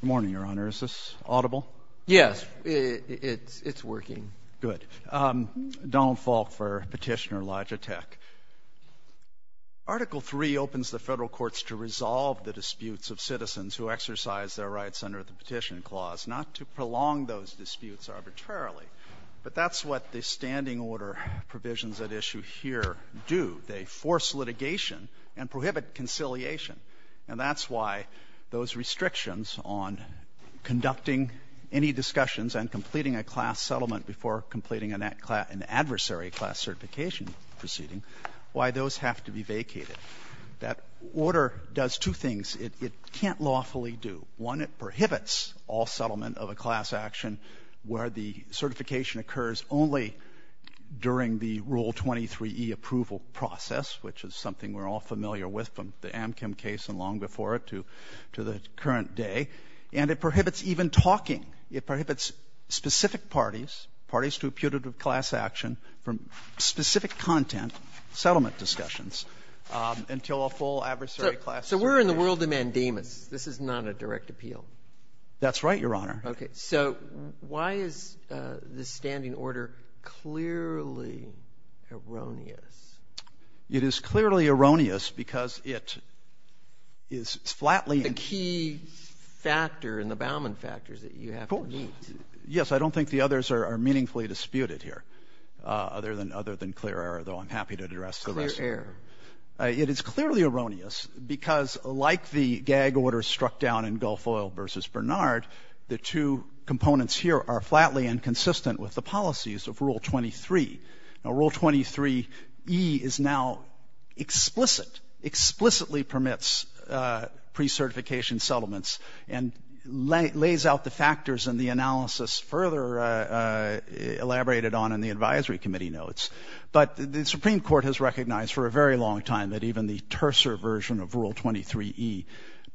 Good morning, Your Honor. Is this audible? Yes, it's working. Good. Donald Falk for Petitioner-Logitech. Article III opens the federal courts to resolve the disputes of citizens who exercise their rights under the Petition Clause, not to prolong those disputes arbitrarily, but that's what the Standing Order provisions at issue here do. They force litigation and prohibit conciliation. And that's why those restrictions on conducting any discussions and completing a class settlement before completing an adversary class certification proceeding, why those have to be vacated. That order does two things it can't lawfully do. One, it prohibits all settlement of a class action where the certification occurs only during the Rule 23e approval process, which is something we're all familiar with from the Amchem case and long before it to the current day. And it prohibits even talking. It prohibits specific parties, parties to a putative class action, from specific content settlement discussions until a full adversary class certification. So we're in the world of mandamus. This is not a direct appeal. That's right, Your Honor. Okay. So why is this Standing Order clearly erroneous? It is clearly erroneous because it is flatly and The key factor in the Bauman factors that you have to meet. Yes. I don't think the others are meaningfully disputed here other than clear error, though I'm happy to address the rest. Clear error. It is clearly erroneous because like the gag order struck down in Gulf Oil versus Bernard, the two components here are flatly inconsistent with the policies of Rule 23. Now, Rule 23e is now explicit, explicitly permits pre-certification settlements and lays out the factors and the analysis further elaborated on in the advisory committee notes. But the Supreme Court has recognized for a very long time that even the terser version of Rule 23e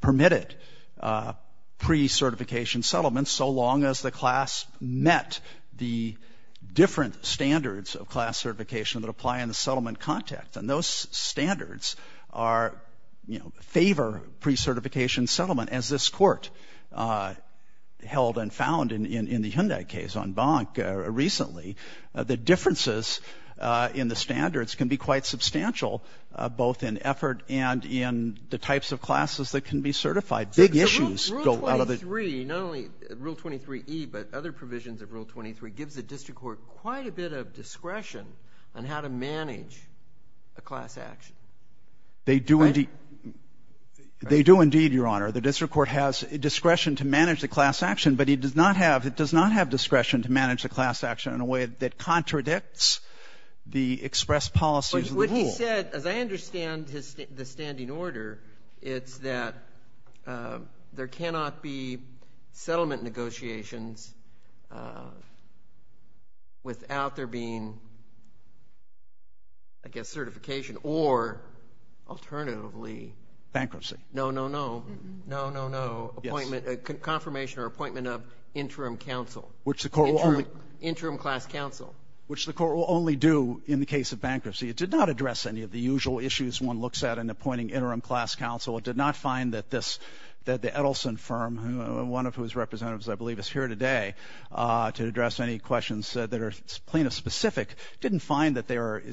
permitted pre-certification settlements so long as the class met the different standards of class certification that apply in the settlement And those standards are, you know, favor pre-certification settlement as this court held and found in the Hyundai case on Bank recently. The differences in the standards can be quite substantial both in effort and in the types of classes that can be certified. Big issues go out of the Rule 23, not only Rule 23e, but other provisions of Rule 23 gives the district court quite a bit of discretion on how to manage a class action. They do indeed, Your Honor. The district court has discretion to manage the class action, but it does not have discretion to manage the class action in a way that contradicts the expressed policies of the rule. But what he said, as I understand the standing order, it's that there cannot be settlement negotiations without there being, I guess, certification or alternatively bankruptcy. No, no, no. No, no, no. Yes. Confirmation or appointment of interim counsel, interim class counsel. Which the court will only do in the case of bankruptcy. It did not address any of the usual issues one looks at in appointing interim class counsel. It did not find that this, that the Edelson firm, one of whose representatives I believe is here today to address any questions that are plaintiff specific, didn't find that there are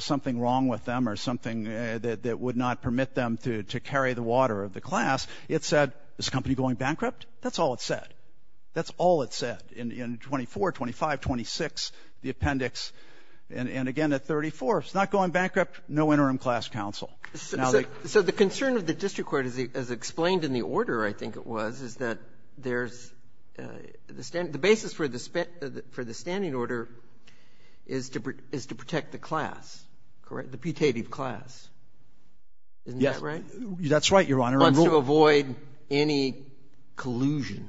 something wrong with them or something that would not permit them to carry the water of the class. It said, is the company going bankrupt? That's all it said. That's all it said in 24, 25, 26, the appendix. And again at 34, it's not going bankrupt, no interim class counsel. So the concern of the district court, as explained in the order I think it was, is that there's the basis for the standing order is to protect the class, correct, the putative class. Isn't that right? That's right, Your Honor. But to avoid any collusion.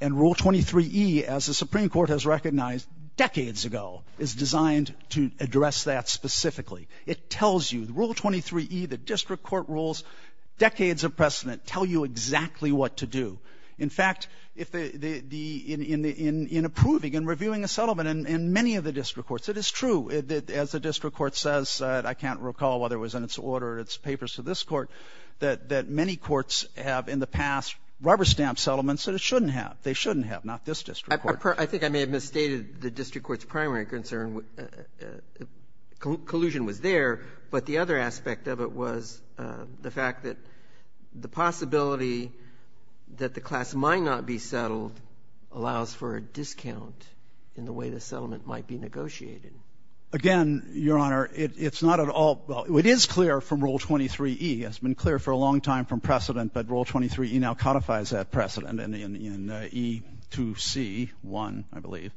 And Rule 23E, as the Supreme Court has recognized decades ago, is designed to address that specifically. It tells you. Rule 23E, the district court rules, decades of precedent tell you exactly what to do. In fact, in approving and reviewing a settlement in many of the district courts, it is true, as the district court says, I can't recall whether it was in this order, its papers to this court, that many courts have in the past rubber stamped settlements that it shouldn't have. They shouldn't have. Not this district court. I think I may have misstated the district court's primary concern. Collusion was there. But the other aspect of it was the fact that the possibility that the class might not be settled allows for a discount in the way the settlement might be negotiated. Again, Your Honor, it's not at all — well, it is clear from Rule 23E. It's been clear for a long time from precedent, but Rule 23E now codifies that precedent in E2C1, I believe,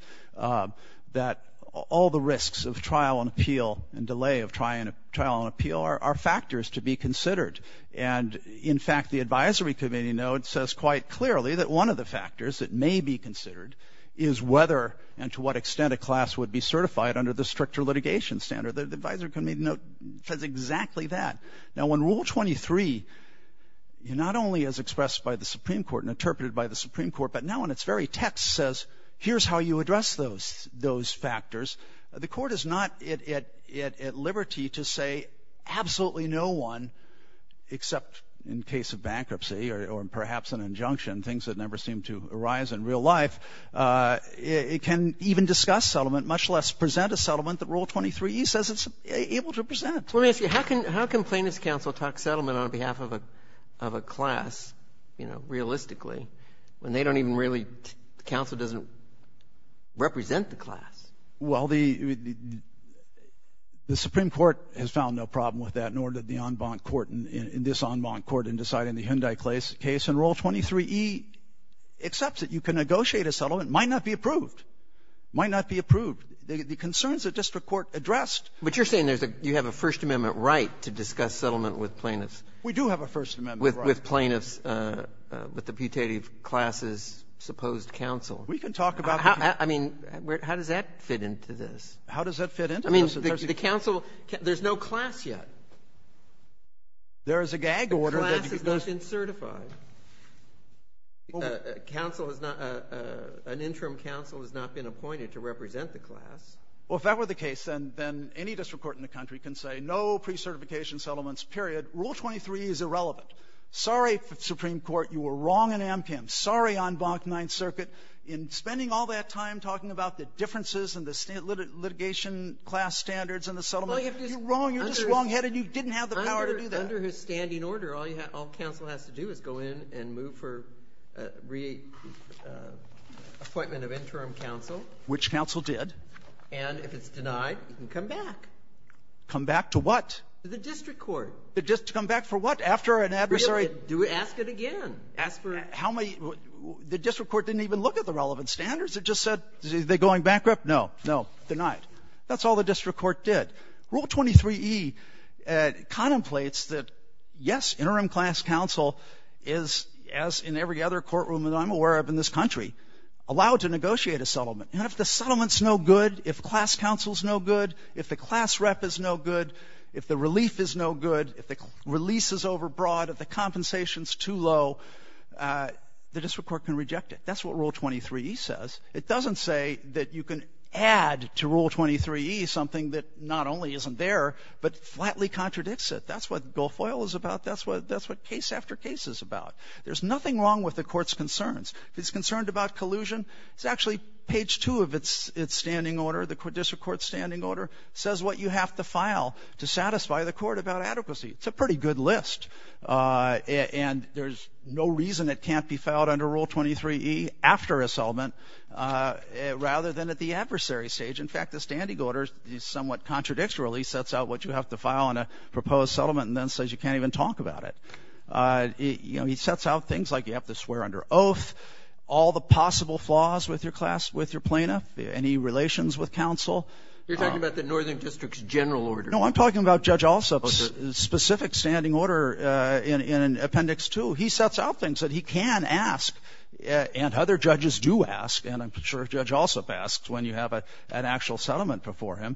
that all the risks of trial and appeal and delay of trial and appeal are factors to be considered. And, in fact, the advisory committee note says quite clearly that one of the factors that may be considered is whether and to what extent a class would be certified under the stricter litigation standard. The advisory committee note says exactly that. Now, when Rule 23 not only is expressed by the Supreme Court and interpreted by the Supreme Court, but now in its very text says here's how you address those factors, the court is not at liberty to say absolutely no one except in case of bankruptcy or perhaps an injunction, things that never seem to arise in real life, it can even discuss settlement, much less present a settlement that Rule 23E says it's able to present. Let me ask you, how can plaintiffs' counsel talk settlement on behalf of a class, you know, realistically, when they don't even really — the counsel doesn't represent the class? Well, the Supreme Court has found no problem with that, nor did the en banc court in this en banc court in deciding the Hyundai case. And Rule 23E accepts it. You can negotiate a settlement. It might not be approved. It might not be approved. The concerns that district court addressed — But you're saying there's a — you have a First Amendment right to discuss settlement with plaintiffs. We do have a First Amendment right. With plaintiffs, with the putative classes' supposed counsel. We can talk about — I mean, how does that fit into this? How does that fit into this? I mean, the counsel — there's no class yet. There is a gag order that — It's been ratified. Counsel has not — an interim counsel has not been appointed to represent the class. Well, if that were the case, then any district court in the country can say, no pre-certification settlements, period. Rule 23E is irrelevant. Sorry, Supreme Court. You were wrong in AMCAM. Sorry, en banc Ninth Circuit, in spending all that time talking about the differences and the litigation class standards and the settlement. You're wrong. You're just wrongheaded. You didn't have the power to do that. Under his standing order, all you have — all counsel has to do is go in and move for reappointment of interim counsel. Which counsel did. And if it's denied, you can come back. Come back to what? To the district court. To come back for what? After an adversary — Do it. Ask it again. Ask for — How many — the district court didn't even look at the relevant standards. It just said, is it going bankrupt? Denied. That's all the district court did. Rule 23E contemplates that, yes, interim class counsel is, as in every other courtroom that I'm aware of in this country, allowed to negotiate a settlement. And if the settlement's no good, if class counsel's no good, if the class rep is no good, if the relief is no good, if the release is overbroad, if the compensation's too low, the district court can reject it. That's what Rule 23E says. It doesn't say that you can add to Rule 23E something that not only isn't there but flatly contradicts it. That's what Guilfoyle is about. That's what case after case is about. There's nothing wrong with the court's concerns. If it's concerned about collusion, it's actually — page two of its standing order, the district court's standing order, says what you have to file to satisfy the court about adequacy. It's a pretty good list. And there's no reason it can't be filed under Rule 23E after a settlement rather than at the adversary stage. In fact, the standing order is somewhat contradictory. He sets out what you have to file on a proposed settlement and then says you can't even talk about it. You know, he sets out things like you have to swear under oath, all the possible flaws with your class, with your plaintiff, any relations with counsel. You're talking about the Northern District's general order. No, I'm talking about Judge Alsup's specific standing order. In Appendix 2, he sets out things that he can ask and other judges do ask, and I'm sure Judge Alsup asks when you have an actual settlement before him,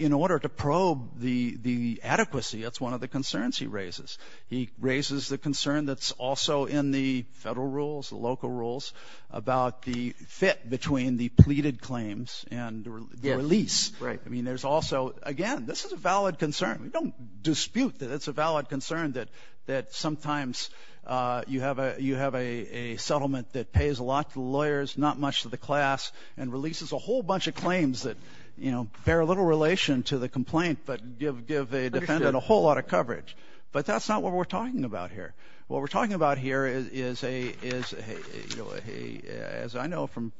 in order to probe the adequacy. That's one of the concerns he raises. He raises the concern that's also in the federal rules, the local rules, about the fit between the pleaded claims and the release. Right. I mean, there's also — again, this is a valid concern. We don't dispute that it's a valid concern that sometimes you have a settlement that pays a lot to the lawyers, not much to the class, and releases a whole bunch of claims that bear little relation to the complaint but give a defendant a whole lot of coverage. But that's not what we're talking about here. What we're talking about here is, as I know from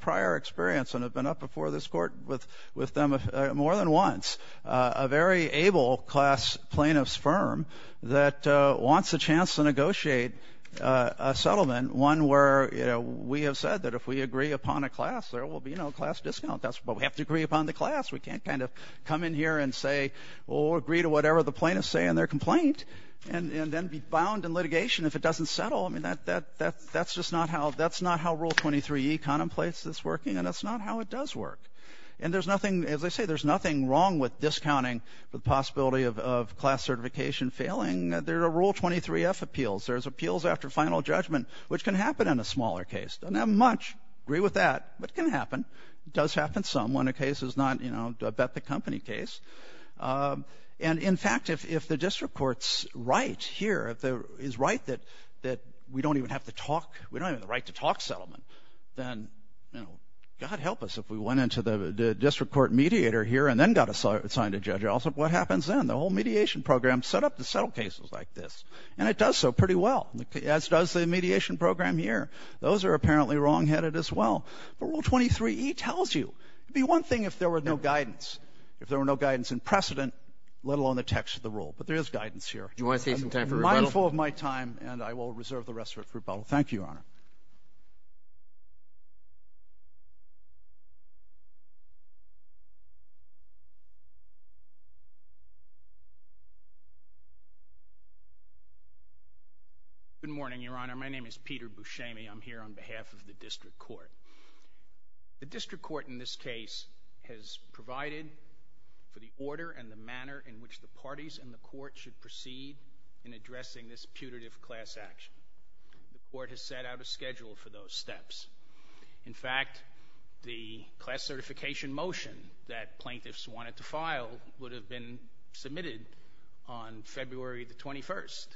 prior experience and have been up before this court with them more than once, a very able class plaintiff's firm that wants a chance to negotiate a settlement, one where we have said that if we agree upon a class, there will be no class discount. That's what we have to agree upon the class. We can't kind of come in here and say, well, we'll agree to whatever the plaintiffs say in their complaint and then be bound in litigation if it doesn't settle. I mean, that's just not how Rule 23E contemplates this working, and that's not how it does work. And there's nothing, as I say, there's nothing wrong with discounting the possibility of class certification failing. There are Rule 23F appeals. There's appeals after final judgment, which can happen in a smaller case. Doesn't have much. Agree with that. But it can happen. It does happen some when a case is not, you know, a bet the company case. And, in fact, if the district court's right here, if it is right that we don't even have the talk, we don't even have the right to talk settlement, then, you know, God help us if we went into the district court mediator here and then got assigned a judge. What happens then? The whole mediation program set up to settle cases like this, and it does so pretty well, as does the mediation program here. Those are apparently wrongheaded as well. But Rule 23E tells you. It would be one thing if there were no guidance, if there were no guidance in precedent, let alone the text of the rule. But there is guidance here. Do you want to save some time for rebuttal? I'm mindful of my time, and I will reserve the rest of it for rebuttal. Thank you, Your Honor. Good morning, Your Honor. My name is Peter Buscemi. I'm here on behalf of the district court. The district court in this case has provided for the order and the manner in which the parties in the court should proceed in addressing this putative class action. The court has set out a schedule for those steps. In fact, the class certification motion that plaintiffs wanted to file would have been submitted on February the 21st,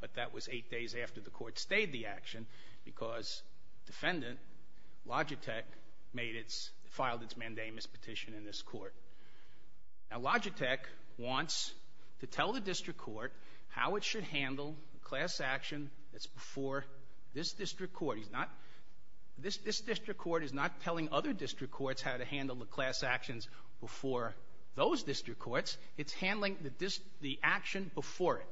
but that was eight days after the court stayed the action because defendant Logitech filed its mandamus petition in this court. Now, Logitech wants to tell the district court how it should handle the class action that's before this district court. This district court is not telling other district courts how to handle the class actions before those district courts. It's handling the action before it.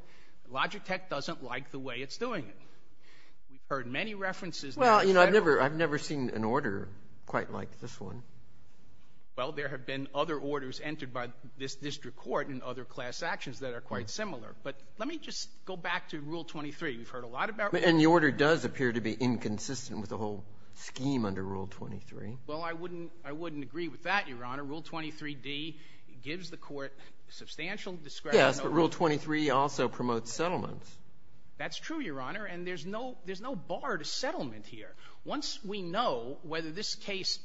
Logitech doesn't like the way it's doing it. We've heard many references. Well, you know, I've never seen an order quite like this one. Well, there have been other orders entered by this district court and other class actions that are quite similar. But let me just go back to Rule 23. We've heard a lot about Rule 23. And the order does appear to be inconsistent with the whole scheme under Rule 23. Well, I wouldn't agree with that, Your Honor. Rule 23d gives the court substantial discretion over it. Yes, but Rule 23 also promotes settlements. That's true, Your Honor, and there's no bar to settlement here. Once we know whether this case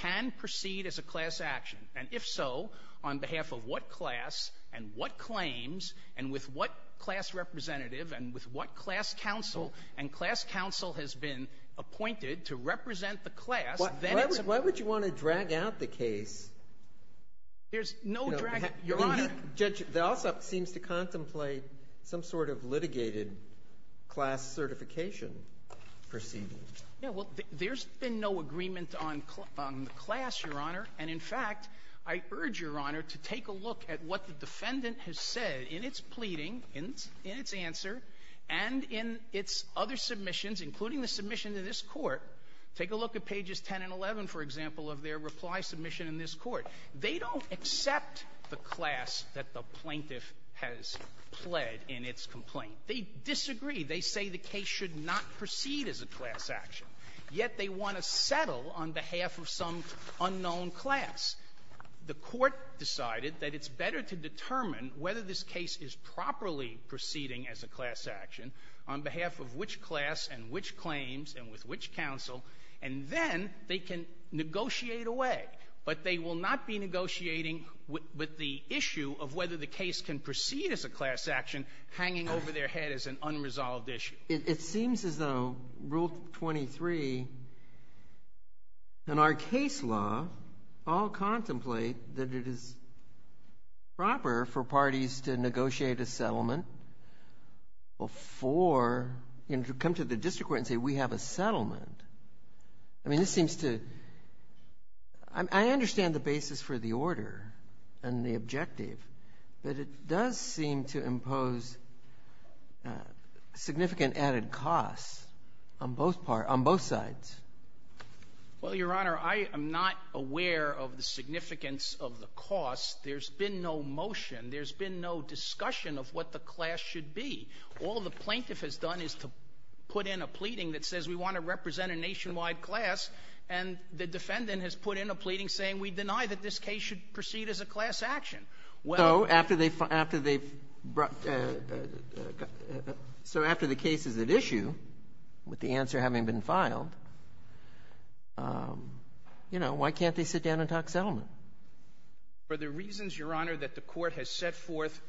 can proceed as a class action, and if so, on behalf of what class and what claims and with what class representative and with what class counsel and class counsel has been appointed to represent the class, then it's... Why would you want to drag out the case? There's no drag, Your Honor. Judge, there also seems to contemplate some sort of litigated class certification proceeding. Yeah, well, there's been no agreement on the class, Your Honor. And in fact, I urge, Your Honor, to take a look at what the defendant has said in its pleading, in its answer, and in its other submissions, including the submission to this court. Take a look at pages 10 and 11, for example, of their reply submission in this court. They don't accept the class that the plaintiff has pled in its complaint. They disagree. They say the case should not proceed as a class action, yet they want to settle on behalf of some unknown class. The court decided that it's better to determine whether this case is properly proceeding as a class action on behalf of which class and which claims and with which counsel, and then they can negotiate away. But they will not be negotiating with the issue of whether the case can proceed as a class action hanging over their head as an unresolved issue. It seems as though Rule 23 and our case law all contemplate that it is proper for parties to negotiate a settlement before you come to the district court and say we have a settlement. I mean, this seems to... I understand the basis for the order and the objective, but it does seem to impose significant added costs on both sides. Well, Your Honor, I am not aware of the significance of the cost. There's been no motion. There's been no discussion of what the class should be. All the plaintiff has done is to put in a pleading that says we want to represent a nationwide class, and the defendant has put in a pleading saying we deny that this case should proceed as a class action. So after the case is at issue, with the answer having been filed, why can't they sit down and talk settlement? For the reasons, Your Honor, that the court has set forth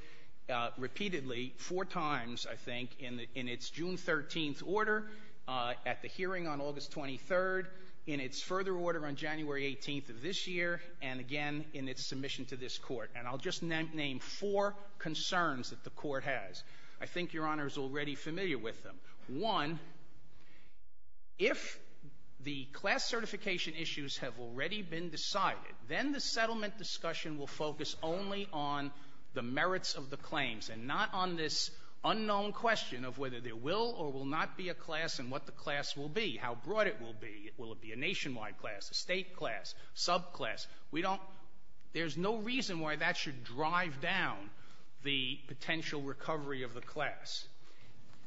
repeatedly four times, I think, in its June 13th order, at the hearing on August 23rd, in its further order on January 18th of this year, and again in its submission to this court. And I'll just name four concerns that the court has. I think Your Honor is already familiar with them. One, if the class certification issues have already been decided, then the settlement discussion will focus only on the merits of the claims and not on this unknown question of whether there will or will not be a class and what the class will be, how broad it will be. Will it be a nationwide class, a state class, subclass? We don't – there's no reason why that should drive down the potential recovery of the class.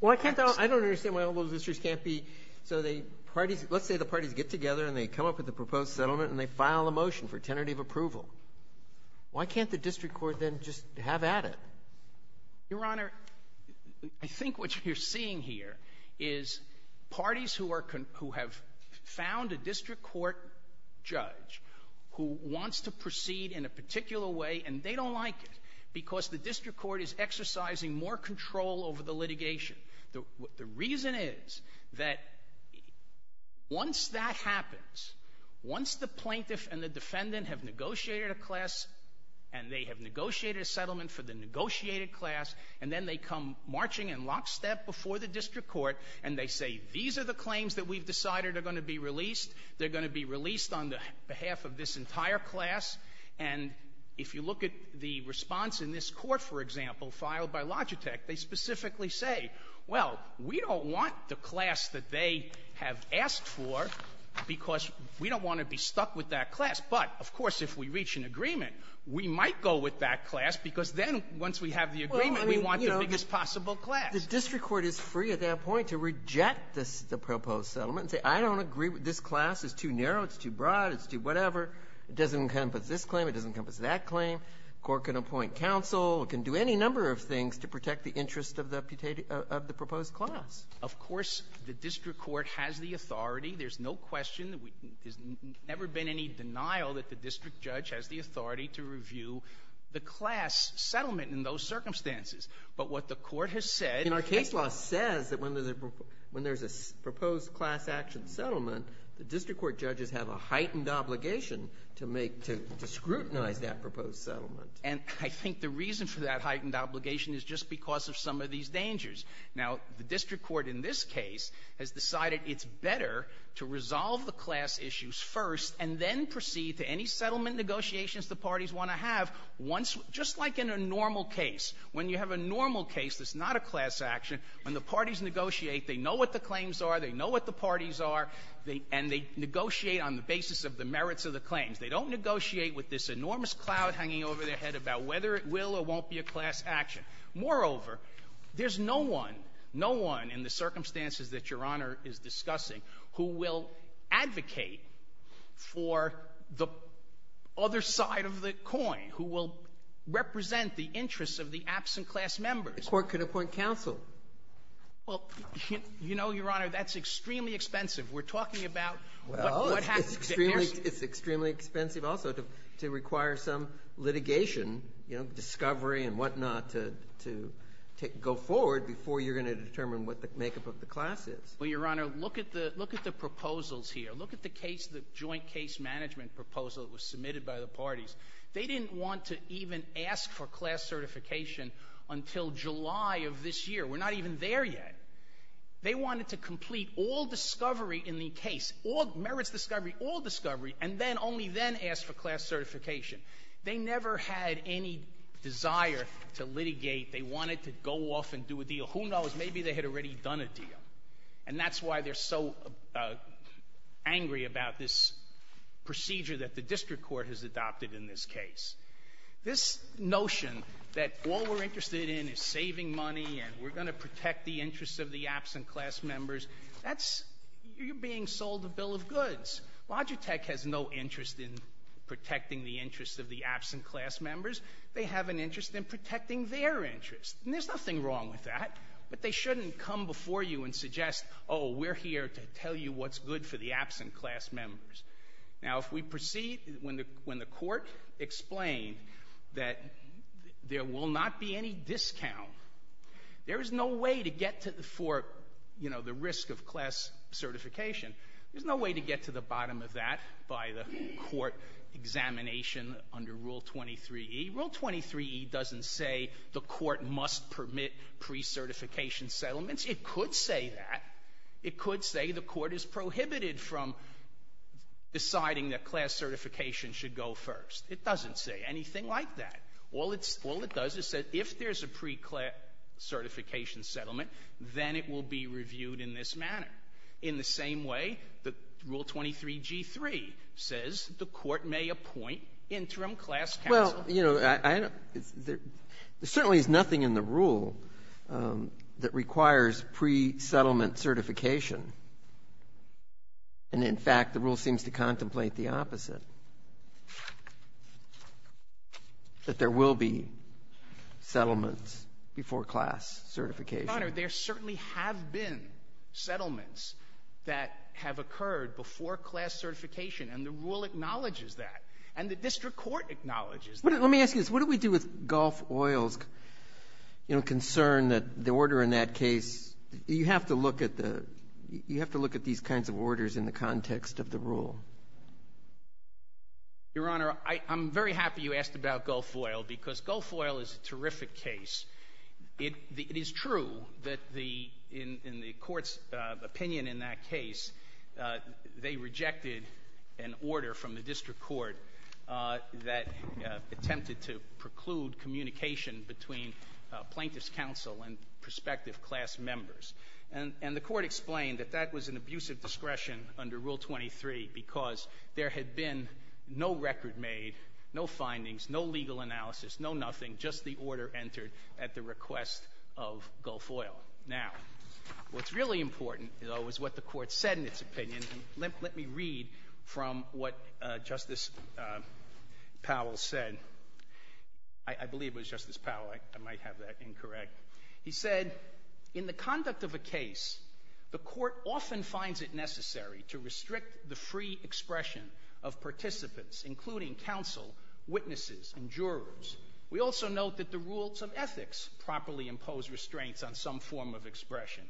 Well, I can't – I don't understand why all those districts can't be – so the parties – let's say the parties get together and they come up with a proposed settlement and they file a motion for tentative approval. Why can't the district court then just have at it? Your Honor, I think what you're seeing here is parties who have found a district court judge who wants to proceed in a particular way and they don't like it because the district court is exercising more control over the litigation. The reason is that once that happens, once the plaintiff and the defendant have negotiated a class and they have negotiated a settlement for the negotiated class and then they come marching in lockstep before the district court and they say these are the claims that we've decided are going to be released, they're going to be released on behalf of this entire class, and if you look at the response in this court, for example, filed by Logitech, they specifically say, well, we don't want the class that they have asked for because we don't want to be stuck with that class. But, of course, if we reach an agreement, we might go with that class because then once we have the agreement, we want the biggest possible class. The district court is free at that point to reject the proposed settlement and say I don't agree with this class, it's too narrow, it's too broad, it's too whatever, it doesn't encompass this claim, it doesn't encompass that claim. The court can appoint counsel, it can do any number of things to protect the interest of the proposed class. Of course, the district court has the authority, there's no question, there's never been any denial that the district judge has the authority to review the class settlement in those circumstances. But what the court has said... And our case law says that when there's a proposed class action settlement, the district court judges have a heightened obligation to scrutinize that proposed settlement. And I think the reason for that heightened obligation is just because of some of these dangers. Now, the district court in this case has decided it's better to resolve the class issues first and then proceed to any settlement negotiations the parties want to have just like in a normal case. When you have a normal case that's not a class action, when the parties negotiate, they know what the claims are, they know what the parties are, and they negotiate on the basis of the merits of the claims. They don't negotiate with this enormous cloud hanging over their head about whether it will or won't be a class action. Moreover, there's no one, no one in the circumstances that Your Honor is discussing who will advocate for the other side of the coin, who will represent the interests of the absent class members. The court could appoint counsel. Well, you know, Your Honor, that's extremely expensive. We're talking about... Well, it's extremely expensive also to require some litigation, you know, discovery and whatnot to go forward before you're going to determine what the makeup of the class is. Well, Your Honor, look at the proposals here. Look at the case, the joint case management proposal that was submitted by the parties. They didn't want to even ask for class certification until July of this year. We're not even there yet. They wanted to complete all discovery in the case, all merits discovery, all discovery, and then only then ask for class certification. They never had any desire to litigate. They wanted to go off and do a deal. Who knows? Maybe they had already done a deal. And that's why they're so angry about this procedure that the district court has adopted in this case. This notion that all we're interested in is saving money and we're going to protect the interests of the absent class members, that's... you're being sold a bill of goods. Logitech has no interest in protecting the interests of the absent class members. They have an interest in protecting their interests, and there's nothing wrong with that. But they shouldn't come before you and suggest, oh, we're here to tell you what's good for the absent class members. Now, if we proceed, when the court explain that there will not be any discount, there is no way to get to the... for, you know, the risk of class certification, there's no way to get to the bottom of that by the court examination under Rule 23E. Rule 23E doesn't say the court must permit pre-certification settlements. It could say that. It could say the court is prohibited from deciding that class certification should go first. It doesn't say anything like that. All it does is say if there's a pre-certification settlement, then it will be reviewed in this manner. In the same way that Rule 23G-3 says the court may appoint interim class counsel. Well, you know, I don't... There certainly is nothing in the rule that requires pre-settlement certification. And, in fact, the rule seems to contemplate the opposite. That there will be settlements before class certification. Your Honor, there certainly have been settlements that have occurred before class certification, and the rule acknowledges that. And the district court acknowledges that. Let me ask you this. What do we do with Gulf Oil's, you know, concern that the order in that case... You have to look at the... You have to look at these kinds of orders in the context of the rule. Your Honor, I'm very happy you asked about Gulf Oil because Gulf Oil is a terrific case. It is true that the... In the court's opinion in that case, they rejected an order from the district court that attempted to preclude communication between plaintiff's counsel and prospective class members. And the court explained that that was an abusive discretion under Rule 23 because there had been no record made, no findings, no legal analysis, no nothing, just the order entered at the request of Gulf Oil. Now, what's really important, though, is what the court said in its opinion. Let me read from what Justice Powell said. I believe it was Justice Powell. I might have that incorrect. He said, In the conduct of a case, the court often finds it necessary to restrict the free expression of participants, including counsel, witnesses, and jurors. We also note that the rules of ethics properly impose restraints on some form of expression.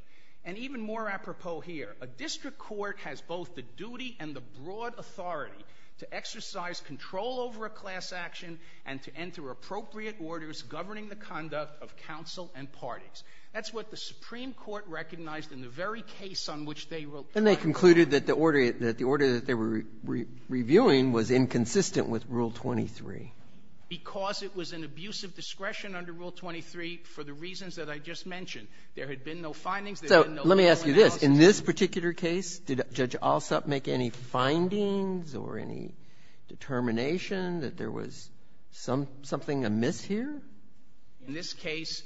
And even more apropos here, a district court has both the duty and the broad authority to exercise control over a class action and to enter appropriate orders governing the conduct of counsel and parties. That's what the Supreme Court recognized in the very case on which they wrote... Then they concluded that the order that they were reviewing was inconsistent with Rule 23. Because it was an abuse of discretion under Rule 23 for the reasons that I just mentioned. There had been no findings. Let me ask you this. In this particular case, did Judge Alsup make any findings or any determination that there was something amiss here? In this case,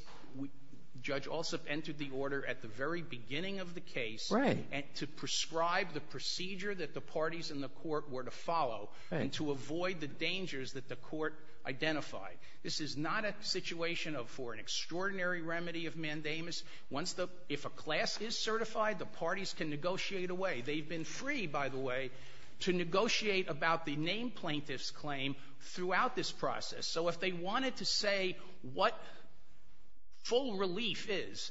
Judge Alsup entered the order at the very beginning of the case to prescribe the procedure that the parties in the court were to follow and to avoid the dangers that the court identified. This is not a situation for an extraordinary remedy of mandamus. If a class is certified, the parties can negotiate away. They've been free, by the way, to negotiate about the named plaintiff's claim throughout this process. So if they wanted to say what full relief is,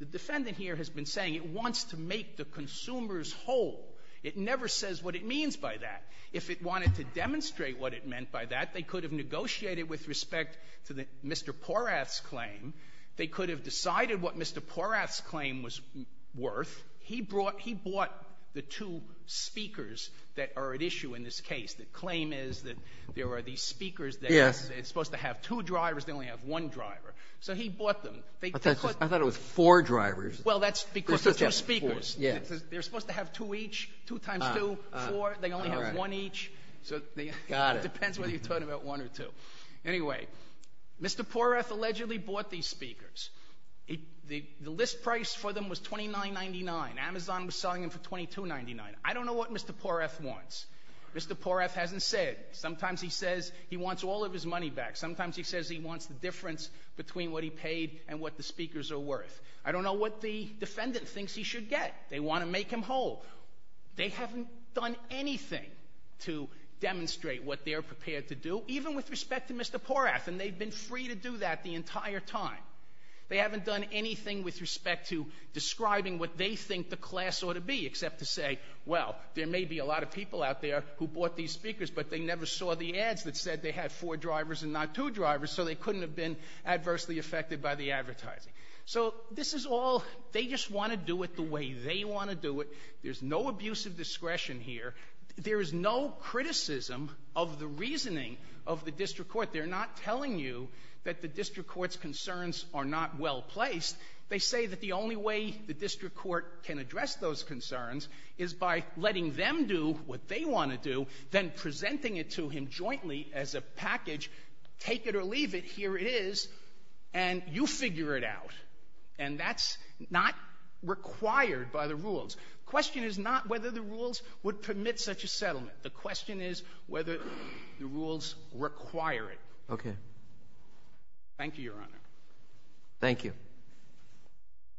the defendant here has been saying it wants to make the consumers whole. It never says what it means by that. If it wanted to demonstrate what it meant by that, they could have negotiated with respect to Mr. Porath's claim. They could have decided what Mr. Porath's claim was worth. He bought the 2 speakers that are at issue in this case. The claim is that there are these speakers that are supposed to have 2 drivers, they only have 1 driver. So he bought them. I thought it was 4 drivers. Well, that's because there's 2 speakers. They're supposed to have 2 each, 2 times 2, 4. They only have 1 each. Got it. It depends whether you're talking about 1 or 2. Anyway, Mr. Porath allegedly bought these speakers. The list price for them was $29.99. Amazon was selling them for $22.99. I don't know what Mr. Porath wants. Mr. Porath hasn't said. Sometimes he says he wants all of his money back. Sometimes he says he wants the difference between what he paid and what the speakers are worth. I don't know what the defendant thinks he should get. They want to make him whole. They haven't done anything to demonstrate what they're prepared to do, even with respect to Mr. Porath, and they've been free to do that the entire time. They haven't done anything with respect to describing what they think the class ought to be, except to say, well, there may be a lot of people out there who bought these speakers, but they never saw the ads that said they had 4 drivers and not 2 drivers, so they couldn't have been adversely affected by the advertising. So this is all... They just want to do it the way they want to do it. There's no abusive discretion here. There is no criticism of the reasoning of the district court. They're not telling you that the district court's concerns are not well placed. They say that the only way the district court can address those concerns is by letting them do what they want to do, then presenting it to him jointly as a package, take it or leave it, here it is, and you figure it out. And that's not required by the rules. The question is not whether the rules would permit such a settlement. The question is whether the rules require it. Okay. Thank you, Your Honor. Thank you.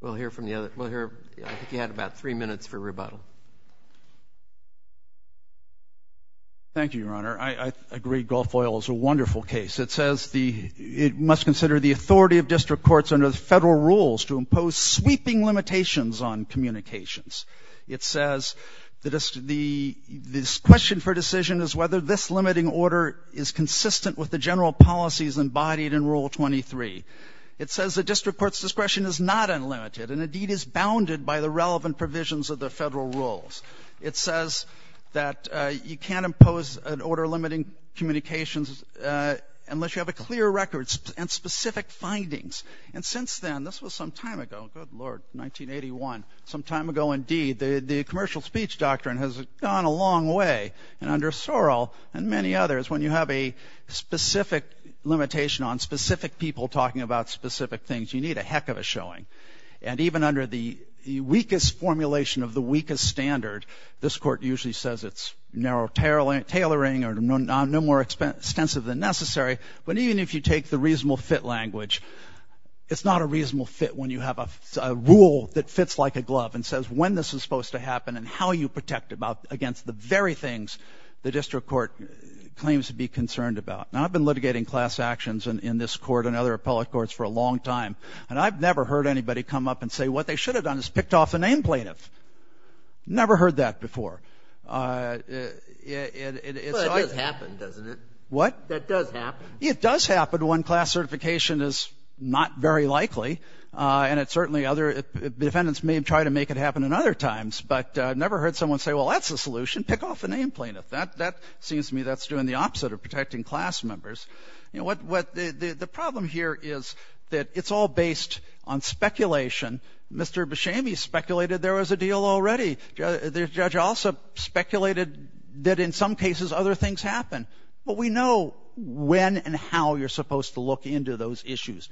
We'll hear from the other... I think you had about 3 minutes for rebuttal. Thank you, Your Honor. I agree, Gulf Oil is a wonderful case. It says it must consider the authority of district courts under the federal rules to impose sweeping limitations on communications. It says the district the question for decision is whether this limiting order is consistent with the general policies embodied in Rule 23. It says the district court's discretion is not unlimited and indeed is bounded by the relevant provisions of the federal rules. It says that you can't impose an order limiting communications unless you have a clear record and specific findings. And since then, this was some time ago, good Lord, 1981, some time ago indeed, the commercial speech doctrine has gone a long way and under Sorrell and many others when you have a specific limitation on specific people talking about specific things, you need a heck of a showing. And even under the weakest formulation of the weakest standard, this court usually says it's narrow tailoring or no more extensive than necessary, but even if you take the reasonable fit language, it's not a reasonable fit when you have a rule that fits like a glove and says when this is supposed to happen and how you protect against the very things the district court claims to be concerned about. Now, I've been litigating class actions in this court and other appellate courts for a long time and I've never heard anybody come up and say what they should have done is picked off a name plaintiff. Never heard that before. Well, that does happen, doesn't it? What? That does happen. It does happen when class certification is not very likely and it certainly other defendants may try to make it happen in other times, but I've never heard someone say, well, that's the solution, pick off a name plaintiff. That seems to me that's doing the opposite of protecting class members. You know, what the problem here is that it's all based on speculation. Mr. Beshami speculated there was a deal already. The judge also speculated that in some cases other things happen. But we know when and how you're supposed to look into those issues.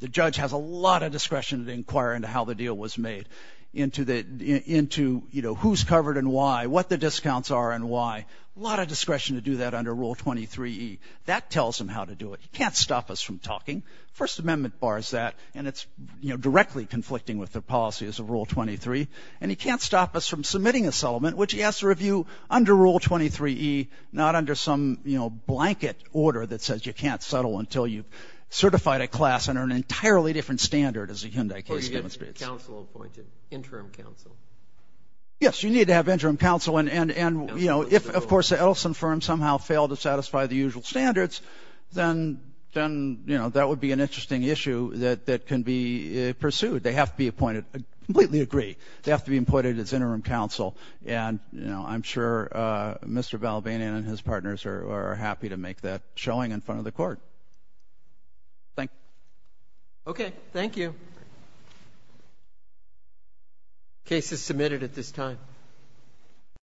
The judge has a lot of discretion to inquire into how the deal was made, into who's covered and why, what the discounts are and why. A lot of discretion to do that under Rule 23E. That tells him how to do it. He can't stop us from talking. First Amendment bars that and it's directly conflicting with the policies of Rule 23. And he can't stop us from submitting a settlement which he has to review under Rule 23E, not under some, you know, blanket order that says you can't settle until you've certified a class under an entirely different standard as the Hyundai case demonstrates. Or you get counsel appointed, interim counsel. Yes, you need to have interim counsel. And, you know, if of course the Edelson firm somehow failed to satisfy the usual standards, then, you know, that would be an interesting issue that can be pursued. They have to be appointed. I completely agree. They have to be appointed as interim counsel. And, you know, I'm sure Mr. Valvanian and his partners are happy to make that showing in front of the court. Thank you. Okay, thank you. Case is submitted at this time.